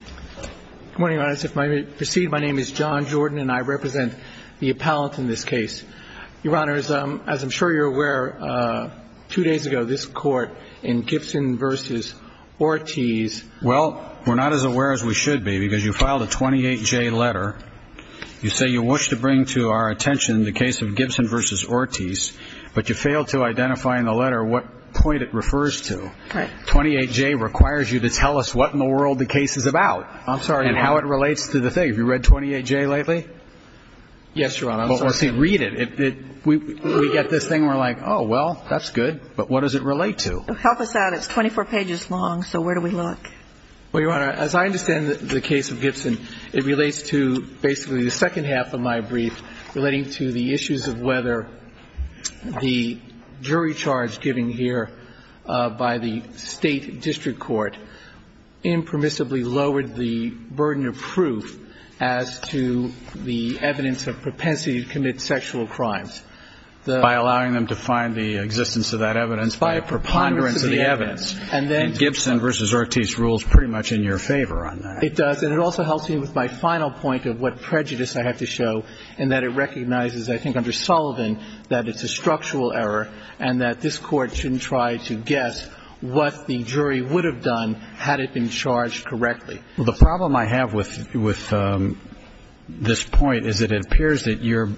Good morning, Your Honor. If I may proceed, my name is John Jordan, and I represent the appellate in this case. Your Honor, as I'm sure you're aware, two days ago, this Court in Gibson v. Ortiz Well, we're not as aware as we should be because you filed a 28-J letter. You say you wish to bring to our attention the case of Gibson v. Ortiz, but you failed to identify in the letter what point it refers to. 28-J requires you to tell us what in the world the case is about. I'm sorry. And how it relates to the thing. Have you read 28-J lately? Yes, Your Honor. Well, see, read it. We get this thing, and we're like, oh, well, that's good, but what does it relate to? Help us out. It's 24 pages long, so where do we look? Well, Your Honor, as I understand the case of Gibson, it relates to basically the second half of my brief relating to the issues of whether the jury charge given here by the State district court impermissibly lowered the burden of proof as to the evidence of propensity to commit sexual crimes. By allowing them to find the existence of that evidence. By a preponderance of the evidence. And Gibson v. Ortiz rules pretty much in your favor on that. It does, and it also helps me with my final point of what prejudice I have to show in that it recognizes, I think under Sullivan, that it's a structural error and that this court shouldn't try to guess what the jury would have done had it been charged correctly. Well, the problem I have with this point is that it appears that you're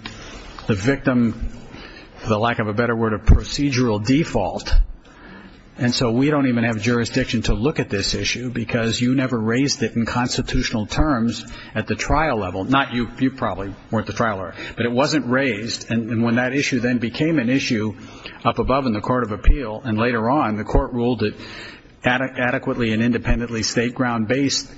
the victim, for the lack of a better word, of procedural default. And so we don't even have jurisdiction to look at this issue because you never raised it in constitutional terms at the trial level. Not you, you probably weren't the trial lawyer, but it wasn't raised. And when that issue then became an issue up above in the court of appeal, and later on the court ruled it adequately and independently state-ground based,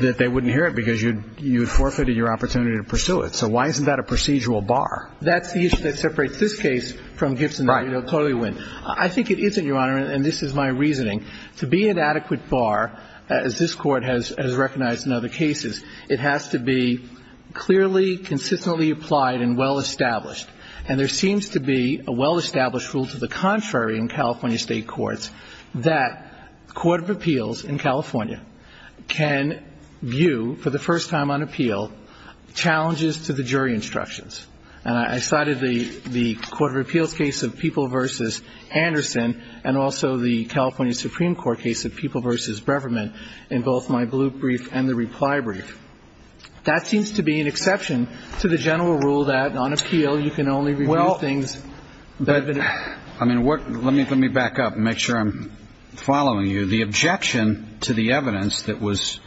that they wouldn't hear it because you'd forfeited your opportunity to pursue it. So why isn't that a procedural bar? That's the issue that separates this case from Gibson v. Ortiz. I totally win. I think it isn't, Your Honor, and this is my reasoning. To be an adequate bar, as this Court has recognized in other cases, it has to be clearly, consistently applied and well-established. And there seems to be a well-established rule to the contrary in California state courts that the court of appeals in California can view, for the first time on appeal, challenges to the jury instructions. And I cited the court of appeals case of People v. Anderson and also the California Supreme Court case of People v. Breverman in both my blue brief and the reply brief. That seems to be an exception to the general rule that on appeal you can only review things. Well, I mean, let me back up and make sure I'm following you. The objection to the evidence that was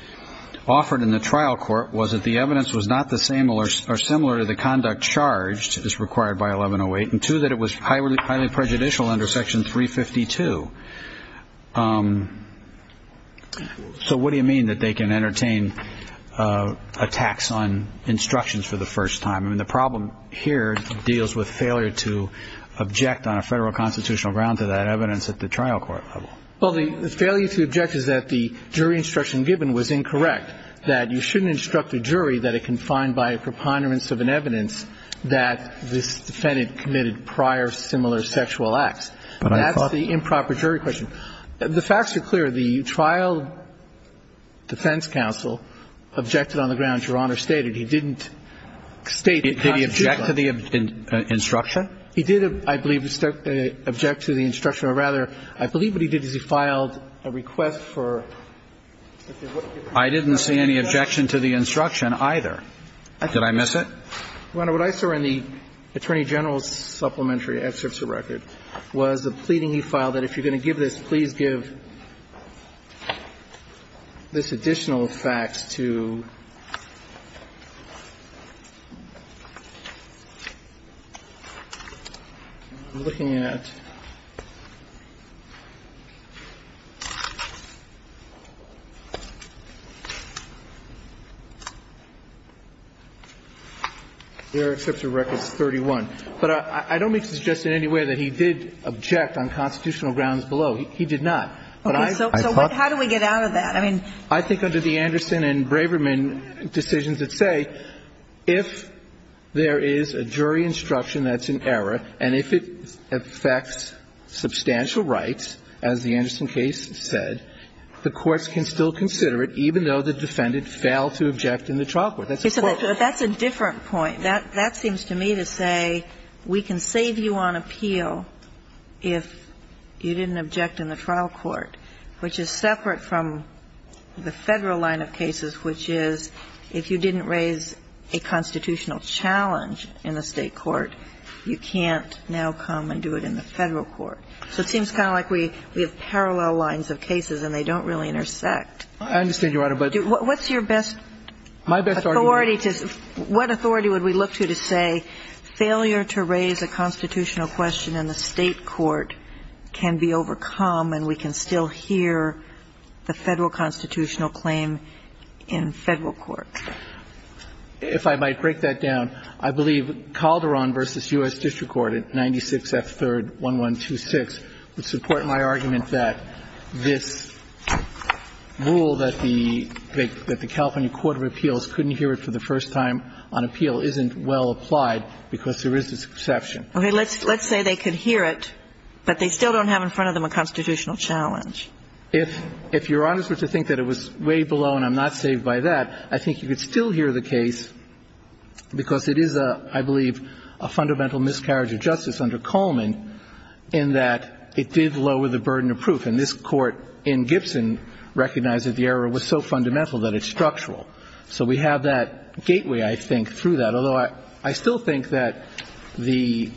offered in the trial court was that the evidence was not the same or similar to the conduct charged as required by 1108 and, two, that it was highly prejudicial under Section 352. So what do you mean that they can entertain attacks on instructions for the first time? I mean, the problem here deals with failure to object on a federal constitutional ground to that evidence at the trial court level. Well, the failure to object is that the jury instruction given was incorrect, that you shouldn't instruct a jury that it can find by a preponderance of an evidence that this defendant committed prior similar sexual acts. That's the improper jury question. The facts are clear. The trial defense counsel objected on the grounds Your Honor stated. He didn't state the constitutional ground. Did he object to the instruction? He did, I believe, object to the instruction, or rather, I believe what he did is he filed a request for ---- I didn't see any objection to the instruction either. Did I miss it? Your Honor, what I saw in the Attorney General's supplementary excerpts of record was a pleading he filed that if you're going to give this, please give this additional facts to ---- I'm looking at ---- The error excerpt of record is 31. But I don't mean to suggest in any way that he did object on constitutional grounds below. He did not. But I thought ---- Okay. So how do we get out of that? I mean ---- I think under the Anderson and Braverman decisions that say if there is a jury instruction that's an error, and if it affects substantial rights, as the Anderson case said, the courts can still consider it even though the defendant failed to object in the trial court. That's a quote. But that's a different point. That seems to me to say we can save you on appeal if you didn't object in the trial court, which is separate from the Federal line of cases, which is if you didn't raise a constitutional challenge in the State court, you can't now come and do it in the Federal court. So it seems kind of like we have parallel lines of cases and they don't really intersect. I understand, Your Honor, but ---- What's your best authority to ---- My best argument ---- What authority would we look to to say failure to raise a constitutional question in the State court can be overcome and we can still hear the Federal constitutional claim in Federal court? If I might break that down, I believe Calderon v. U.S. District Court at 96F3-1126 would support my argument that this rule that the California Court of Appeals couldn't hear it for the first time on appeal isn't well applied because there is this exception. Okay. Let's say they could hear it, but they still don't have in front of them a constitutional challenge. If Your Honor were to think that it was way below and I'm not saved by that, I think you could still hear the case because it is a, I believe, a fundamental miscarriage of justice under Coleman in that it did lower the burden of proof. And this Court in Gibson recognized that the error was so fundamental that it's structural. So we have that gateway, I think, through that. Although I still think that the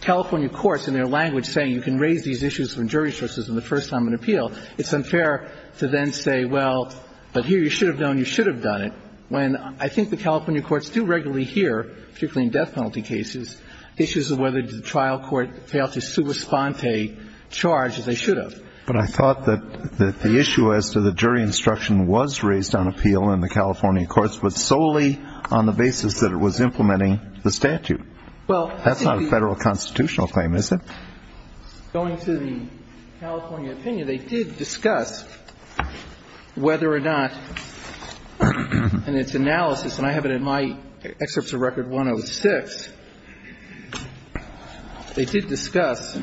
California courts in their language saying you can raise these issues from jury sources for the first time on appeal, it's unfair to then say, well, but here you should have known you should have done it, when I think the California courts do regularly hear, particularly in death penalty cases, issues of whether the trial court failed to sui sponte charge as they should have. But I thought that the issue as to the jury instruction was raised on appeal in the California courts, but solely on the basis that it was implementing the statute. That's not a Federal constitutional claim, is it? Going to the California opinion, they did discuss whether or not in its analysis, and I have it in my excerpts of Record 106, they did discuss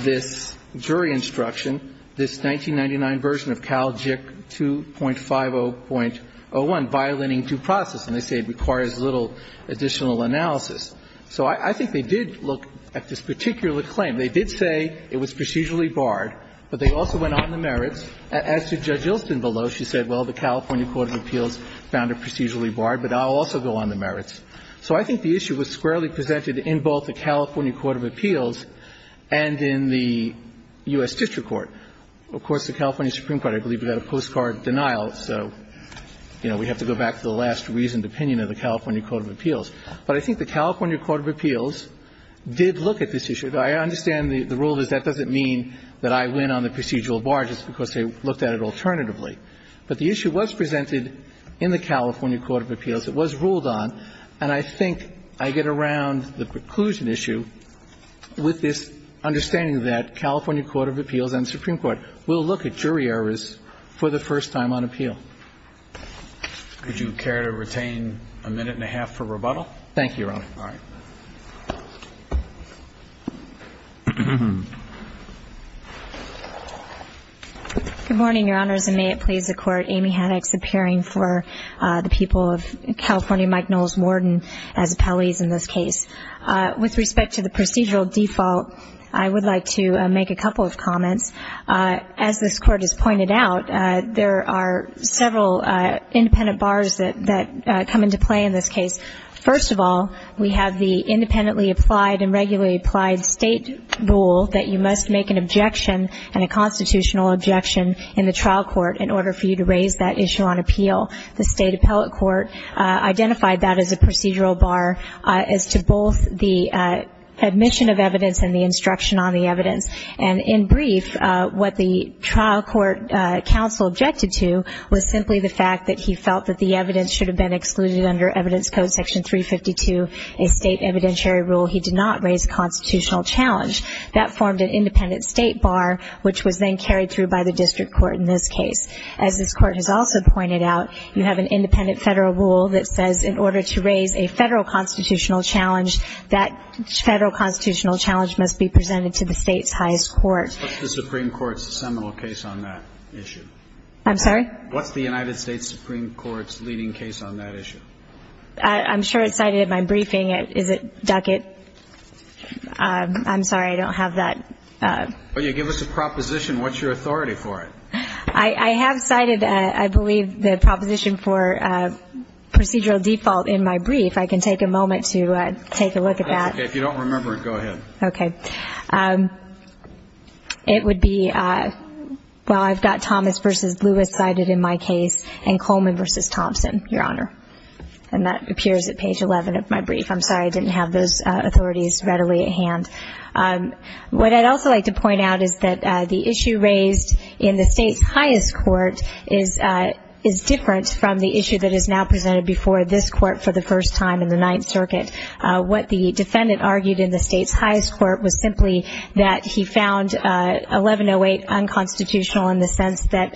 this jury instruction, this 1999 version of Cal JIC 2.50.01, violating due process, and they say it requires little additional analysis. So I think they did look at this particular claim. They did say it was procedurally barred, but they also went on the merits. As to Judge Ilston below, she said, well, the California court of appeals found it procedurally barred, but I'll also go on the merits. So I think the issue was squarely presented in both the California court of appeals and in the U.S. district court. Of course, the California Supreme Court, I believe, had a postcard denial, so, you know, we have to go back to the last reasoned opinion of the California court of appeals. But I think the California court of appeals did look at this issue. I understand the rule is that doesn't mean that I win on the procedural bar, just because they looked at it alternatively. But the issue was presented in the California court of appeals. It was ruled on. And I think I get around the preclusion issue with this understanding that California court of appeals and Supreme Court will look at jury errors for the first time on appeal. Would you care to retain a minute and a half for rebuttal? Thank you, Your Honor. All right. Good morning, Your Honors. And may it please the Court. Amy Haddix appearing for the people of California, Mike Knowles-Morden as appellees in this case. With respect to the procedural default, I would like to make a couple of comments. As this Court has pointed out, there are several independent bars that come into play in this case. First of all, we have the independently applied and regularly applied state rule that you must make an objection and a constitutional objection in the trial court in order for you to raise that issue on appeal. The state appellate court identified that as a procedural bar as to both the admission of evidence and the instruction on the evidence. And in brief, what the trial court counsel objected to was simply the fact that he felt that the evidence should have been excluded under evidence code section 352, a state evidentiary rule. He did not raise a constitutional challenge. That formed an independent state bar, which was then carried through by the district court in this case. As this Court has also pointed out, you have an independent federal rule that says in order to raise a federal constitutional challenge, that federal constitutional challenge must be presented to the state's highest court. What's the Supreme Court's seminal case on that issue? I'm sorry? What's the United States Supreme Court's leading case on that issue? I'm sure it's cited in my briefing. Is it ducat? I'm sorry. I don't have that. Well, you give us a proposition. What's your authority for it? I have cited, I believe, the proposition for procedural default in my brief. I can take a moment to take a look at that. That's okay. If you don't remember it, go ahead. Okay. It would be, well, I've got Thomas v. Lewis cited in my case and Coleman v. Thompson, Your Honor. And that appears at page 11 of my brief. I'm sorry. I didn't have those authorities readily at hand. What I'd also like to point out is that the issue raised in the state's highest court is different from the issue that is now presented before this Court for the first time in the Ninth Circuit. What the defendant argued in the state's highest court was simply that he found 1108 unconstitutional in the sense that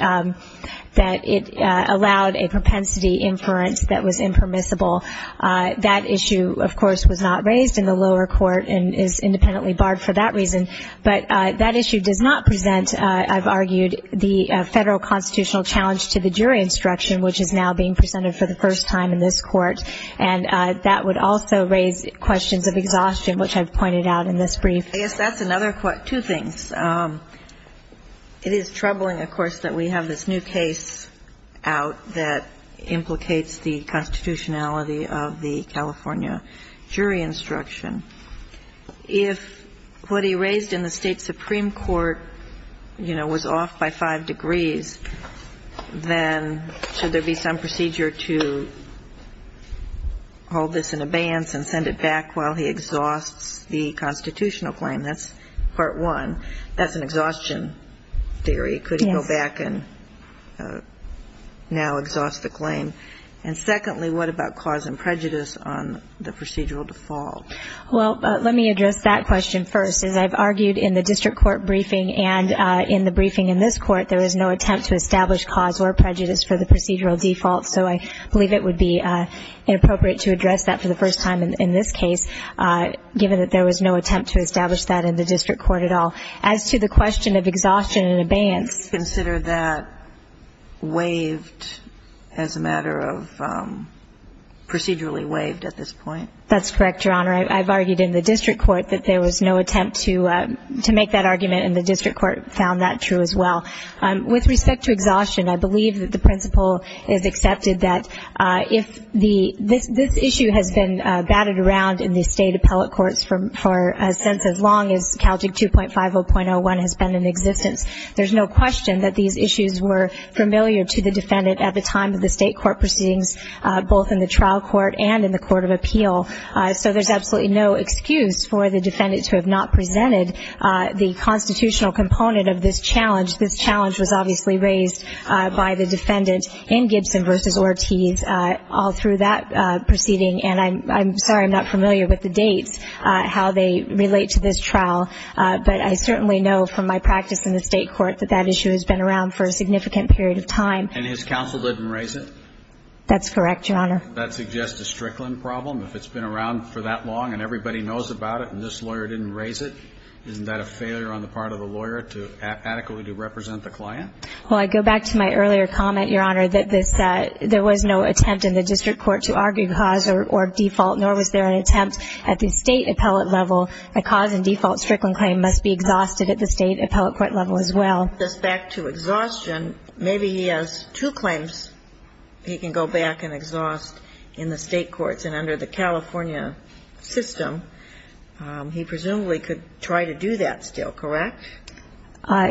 it allowed a propensity inference that was impermissible. That issue, of course, was not raised in the lower court and is independently barred for that reason. But that issue does not present, I've argued, the federal constitutional challenge to the jury instruction, which is now being presented for the first time in this Court. And that would also raise questions of exhaustion, which I've pointed out in this brief. I guess that's another question. Two things. It is troubling, of course, that we have this new case out that implicates the constitutionality of the California jury instruction. If what he raised in the state supreme court, you know, was off by five degrees, then should there be some procedure to hold this in abeyance and send it back while he exhausts the constitutional claim? That's part one. That's an exhaustion theory. Could he go back and now exhaust the claim? And secondly, what about cause and prejudice on the procedural default? Well, let me address that question first. As I've argued in the district court briefing and in the briefing in this court, there was no attempt to establish cause or prejudice for the procedural default. So I believe it would be inappropriate to address that for the first time in this case, given that there was no attempt to establish that in the district court at all. As to the question of exhaustion and abeyance. You consider that waived as a matter of procedurally waived at this point? That's correct, Your Honor. I've argued in the district court that there was no attempt to make that argument, and the district court found that true as well. With respect to exhaustion, I believe that the principle is accepted that if this issue has been batted around in the state appellate courts for a sense as long as CALJIG 2.50.01 has been in existence, there's no question that these issues were familiar to the defendant at the time of the state court proceedings, both in the trial court and in the court of appeal. So there's absolutely no excuse for the defendant to have not presented the constitutional component of this challenge, which this challenge was obviously raised by the defendant in Gibson v. Ortiz all through that proceeding. And I'm sorry I'm not familiar with the dates, how they relate to this trial, but I certainly know from my practice in the state court that that issue has been around for a significant period of time. And his counsel didn't raise it? That's correct, Your Honor. Does that suggest a Strickland problem? If it's been around for that long and everybody knows about it and this lawyer didn't raise it, isn't that a failure on the part of the lawyer to adequately represent the client? Well, I go back to my earlier comment, Your Honor, that there was no attempt in the district court to argue cause or default, nor was there an attempt at the state appellate level. A cause and default Strickland claim must be exhausted at the state appellate court level as well. This back to exhaustion, maybe he has two claims he can go back and exhaust in the state courts. And under the California system, he presumably could try to do that still, correct?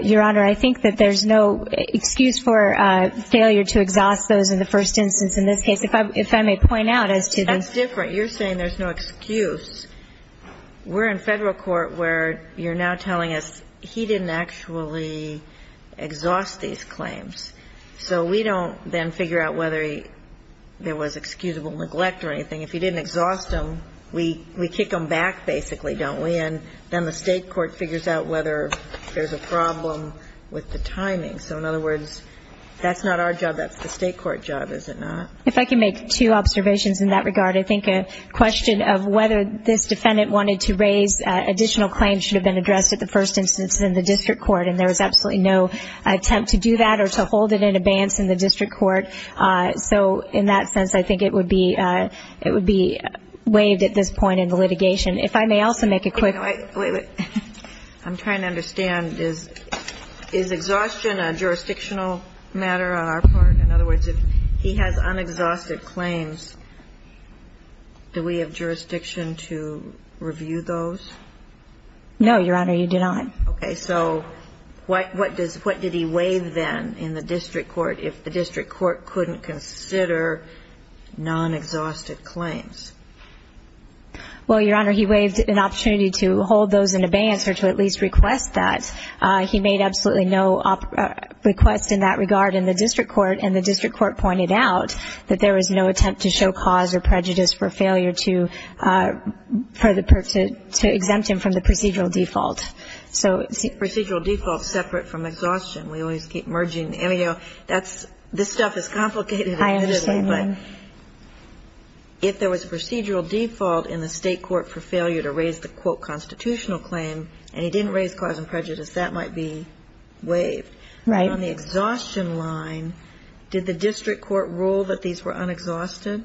Your Honor, I think that there's no excuse for failure to exhaust those in the first instance in this case. If I may point out as to the ---- That's different. You're saying there's no excuse. We're in Federal court where you're now telling us he didn't actually exhaust these claims. So we don't then figure out whether there was excusable neglect or anything. If he didn't exhaust them, we kick them back basically, don't we? And then the state court figures out whether there's a problem with the timing. So in other words, that's not our job, that's the state court job, is it not? If I can make two observations in that regard, I think a question of whether this defendant wanted to raise additional claims should have been addressed at the first instance in the district court. And there was absolutely no attempt to do that or to hold it in advance in the district court. So in that sense, I think it would be waived at this point in the litigation. If I may also make a quick ---- I'm trying to understand. Is exhaustion a jurisdictional matter on our part? In other words, if he has unexhausted claims, do we have jurisdiction to review those? No, Your Honor, you do not. Okay. So what did he waive then in the district court if the district court couldn't consider non-exhausted claims? Well, Your Honor, he waived an opportunity to hold those in abeyance or to at least request that. He made absolutely no request in that regard in the district court, and the district court pointed out that there was no attempt to show cause or prejudice for failure to exempt him from the procedural default. Procedural default is separate from exhaustion. We always keep merging. This stuff is complicated. I understand. But if there was procedural default in the state court for failure to raise the, quote, constitutional claim and he didn't raise cause and prejudice, that might be waived. Right. And on the exhaustion line, did the district court rule that these were unexhausted?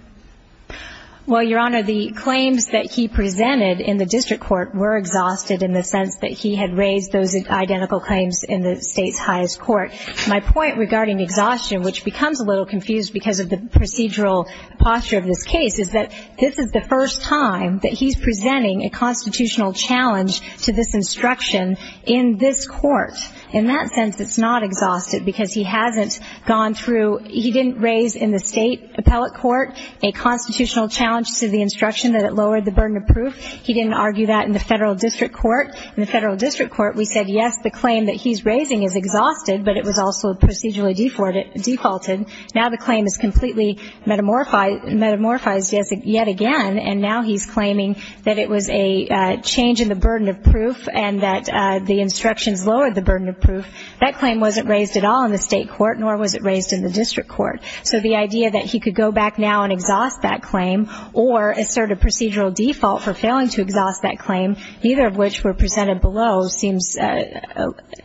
Well, Your Honor, the claims that he presented in the district court were exhausted in the sense that he had raised those identical claims in the state's highest court. My point regarding exhaustion, which becomes a little confused because of the procedural posture of this case, is that this is the first time that he's presenting a constitutional challenge to this instruction in this court. In that sense, it's not exhausted because he hasn't gone through he didn't raise in the state appellate court a constitutional challenge to the instruction that it lowered the burden of proof. He didn't argue that in the federal district court. In the federal district court, we said, yes, the claim that he's raising is exhausted, but it was also procedurally defaulted. Now the claim is completely metamorphized yet again, and now he's claiming that it was a change in the burden of proof and that the instructions lowered the burden of proof. That claim wasn't raised at all in the state court, nor was it raised in the district court. So the idea that he could go back now and exhaust that claim or assert a procedural default for failing to exhaust that claim, neither of which were presented below, seems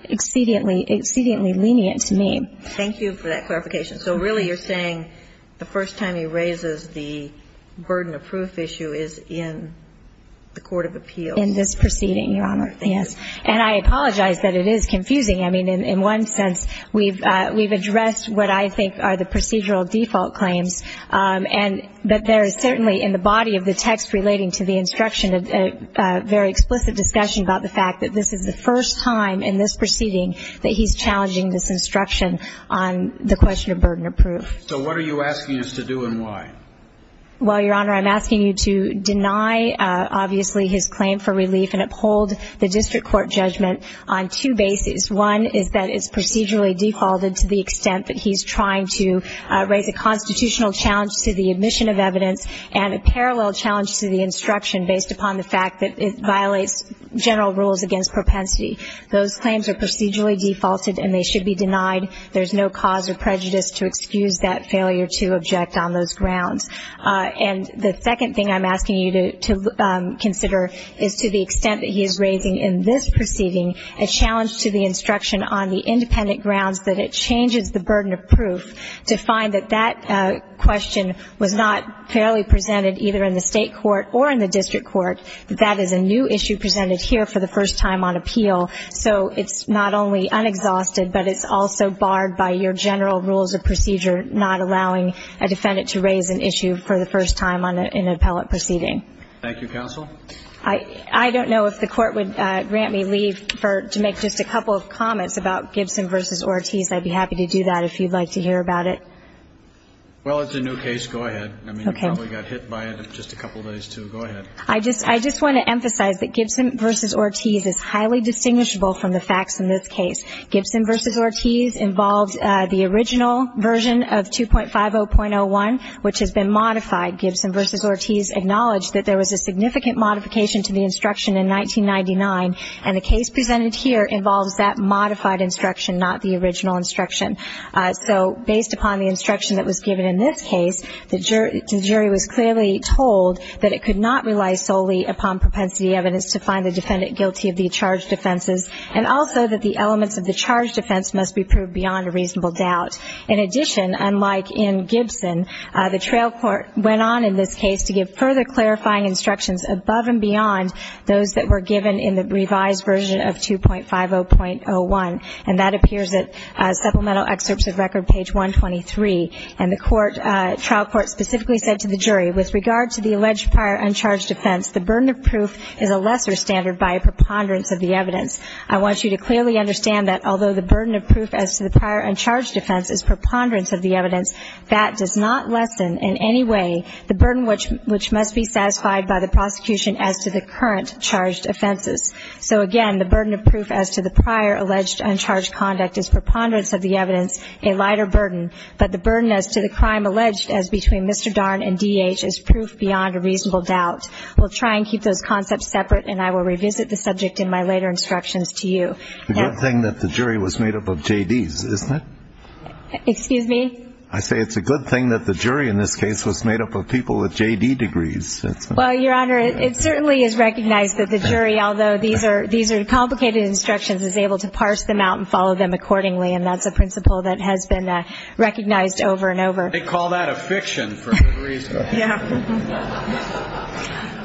exceedingly lenient to me. Thank you for that clarification. So really you're saying the first time he raises the burden of proof issue is in the court of appeals? In this proceeding, Your Honor, yes. And I apologize that it is confusing. I mean, in one sense we've addressed what I think are the procedural default claims, but there is certainly in the body of the text relating to the instruction a very explicit discussion about the fact that this is the first time in this proceeding that he's challenging this instruction on the question of burden of proof. So what are you asking us to do and why? Well, Your Honor, I'm asking you to deny, obviously, his claim for relief and uphold the district court judgment on two bases. One is that it's procedurally defaulted to the extent that he's trying to raise a constitutional challenge to the admission of evidence and a parallel challenge to the instruction based upon the fact that it violates general rules against propensity. Those claims are procedurally defaulted and they should be denied. There's no cause or prejudice to excuse that failure to object on those grounds. And the second thing I'm asking you to consider is to the extent that he is raising in this proceeding a challenge to the instruction on the independent grounds that it changes the burden of proof to find that that question was not fairly presented either in the state court or in the district court, that that is a new issue presented here for the first time on appeal. So it's not only unexhausted, but it's also barred by your general rules of procedure, not allowing a defendant to raise an issue for the first time on an appellate proceeding. Thank you, counsel. I don't know if the court would grant me leave to make just a couple of comments about Gibson v. Ortiz. I'd be happy to do that if you'd like to hear about it. Well, it's a new case. Go ahead. I mean, you probably got hit by it in just a couple of days, too. Go ahead. I just want to emphasize that Gibson v. Ortiz is highly distinguishable from the facts in this case. Gibson v. Ortiz involves the original version of 2.50.01, which has been modified. Gibson v. Ortiz acknowledged that there was a significant modification to the instruction in 1999, and the case presented here involves that modified instruction, not the original instruction. So based upon the instruction that was given in this case, the jury was clearly told that it could not rely solely upon propensity evidence to find the defendant guilty of the charged offenses, and also that the elements of the charged offense must be proved beyond a reasonable doubt. In addition, unlike in Gibson, the trail court went on in this case to give further clarifying instructions above and beyond those that were given in the revised version of 2.50.01, and that appears at supplemental excerpts of record, page 123. And the trial court specifically said to the jury, with regard to the alleged prior uncharged offense, the burden of proof is a lesser standard by a preponderance of the evidence. I want you to clearly understand that, although the burden of proof as to the prior uncharged offense is preponderance of the evidence, that does not lessen in any way the burden which must be satisfied by the prosecution as to the current charged offenses. So, again, the burden of proof as to the prior alleged uncharged conduct is preponderance of the evidence, a lighter burden, but the burden as to the crime alleged as between Mr. Darn and D.H. is proof beyond a reasonable doubt. We'll try and keep those concepts separate, and I will revisit the subject in my later instructions to you. The good thing that the jury was made up of J.D.s, isn't it? Excuse me? I say it's a good thing that the jury in this case was made up of people with J.D. degrees. Well, Your Honor, it certainly is recognized that the jury, although these are complicated instructions, is able to parse them out and follow them accordingly, and that's a principle that has been recognized over and over. They call that a fiction for good reason. Yeah.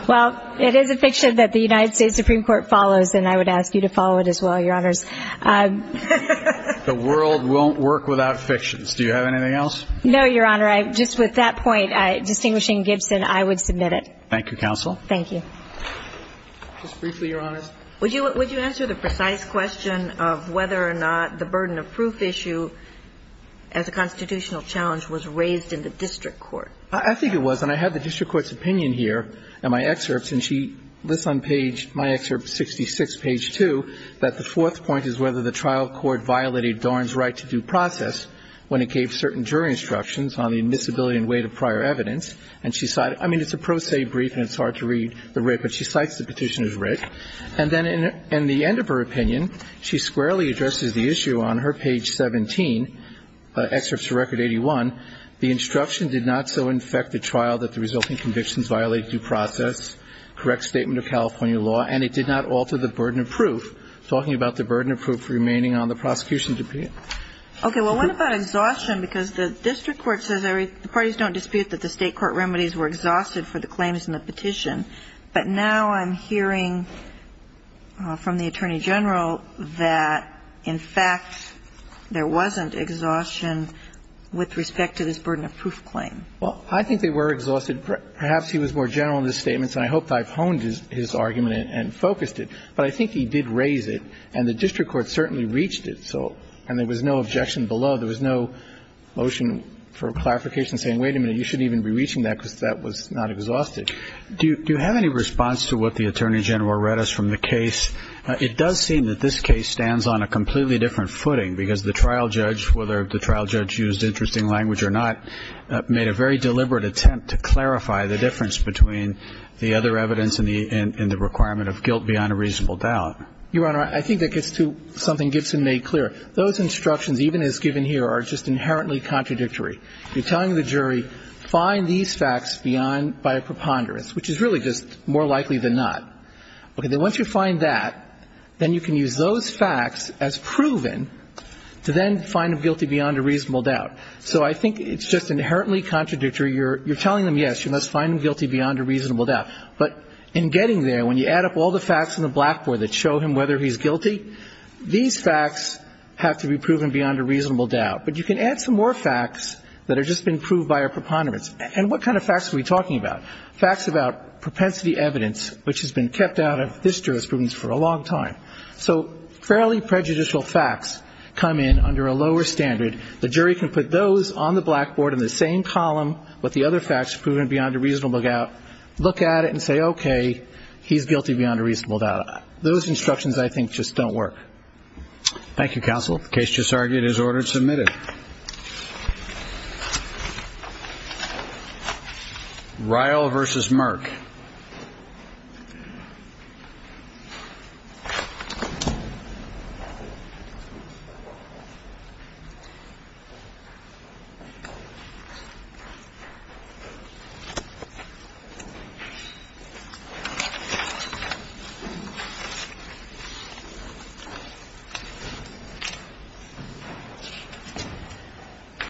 Well, it is a fiction that the United States Supreme Court follows, and I would ask you to follow it as well, Your Honors. The world won't work without fictions. Do you have anything else? No, Your Honor. Just with that point, distinguishing Gibson, I would submit it. Thank you, Counsel. Thank you. Just briefly, Your Honors. Would you answer the precise question of whether or not the burden of proof issue as a constitutional challenge was raised in the district court? I think it was, and I have the district court's opinion here in my excerpts, and she lists on page, my excerpt 66, page 2, that the fourth point is whether the trial court violated Dorn's right to due process when it gave certain jury instructions on the admissibility and weight of prior evidence. And she cited – I mean, it's a pro se brief, and it's hard to read the writ, but she cites the petition as writ. And then in the end of her opinion, she squarely addresses the issue on her page 17, excerpts from record 81. The instruction did not so infect the trial that the resulting convictions violated due process, correct statement of California law, and it did not alter the burden of proof, talking about the burden of proof remaining on the prosecution. Okay. Well, what about exhaustion? Because the district court says the parties don't dispute that the state court remedies were exhausted for the claims in the petition. But now I'm hearing from the Attorney General that, in fact, there wasn't exhaustion with respect to this burden of proof claim. Well, I think they were exhausted. Perhaps he was more general in his statements, and I hope I've honed his argument and focused it. But I think he did raise it, and the district court certainly reached it. So – and there was no objection below. There was no motion for clarification saying, wait a minute, you shouldn't even be reaching that because that was not exhausted. Do you have any response to what the Attorney General read us from the case? It does seem that this case stands on a completely different footing, because the trial judge, whether the trial judge used interesting language or not, made a very deliberate attempt to clarify the difference between the other evidence and the requirement of guilt beyond a reasonable doubt. Your Honor, I think that gets to something Gibson made clear. Those instructions, even as given here, are just inherently contradictory. You're telling the jury, find these facts beyond – by a preponderance, which is really just more likely than not. Okay. Then once you find that, then you can use those facts as proven to then find him guilty beyond a reasonable doubt. So I think it's just inherently contradictory. You're telling them, yes, you must find him guilty beyond a reasonable doubt. But in getting there, when you add up all the facts on the blackboard that show him whether he's guilty, these facts have to be proven beyond a reasonable doubt. But you can add some more facts that have just been proved by a preponderance. And what kind of facts are we talking about? Facts about propensity evidence, which has been kept out of this jurisprudence for a long time. So fairly prejudicial facts come in under a lower standard. The jury can put those on the blackboard in the same column with the other facts proven beyond a reasonable doubt, look at it and say, okay, he's guilty beyond a reasonable doubt. Those instructions, I think, just don't work. Thank you, counsel. The case just argued is ordered submitted. Ryle versus Merck. Thank you.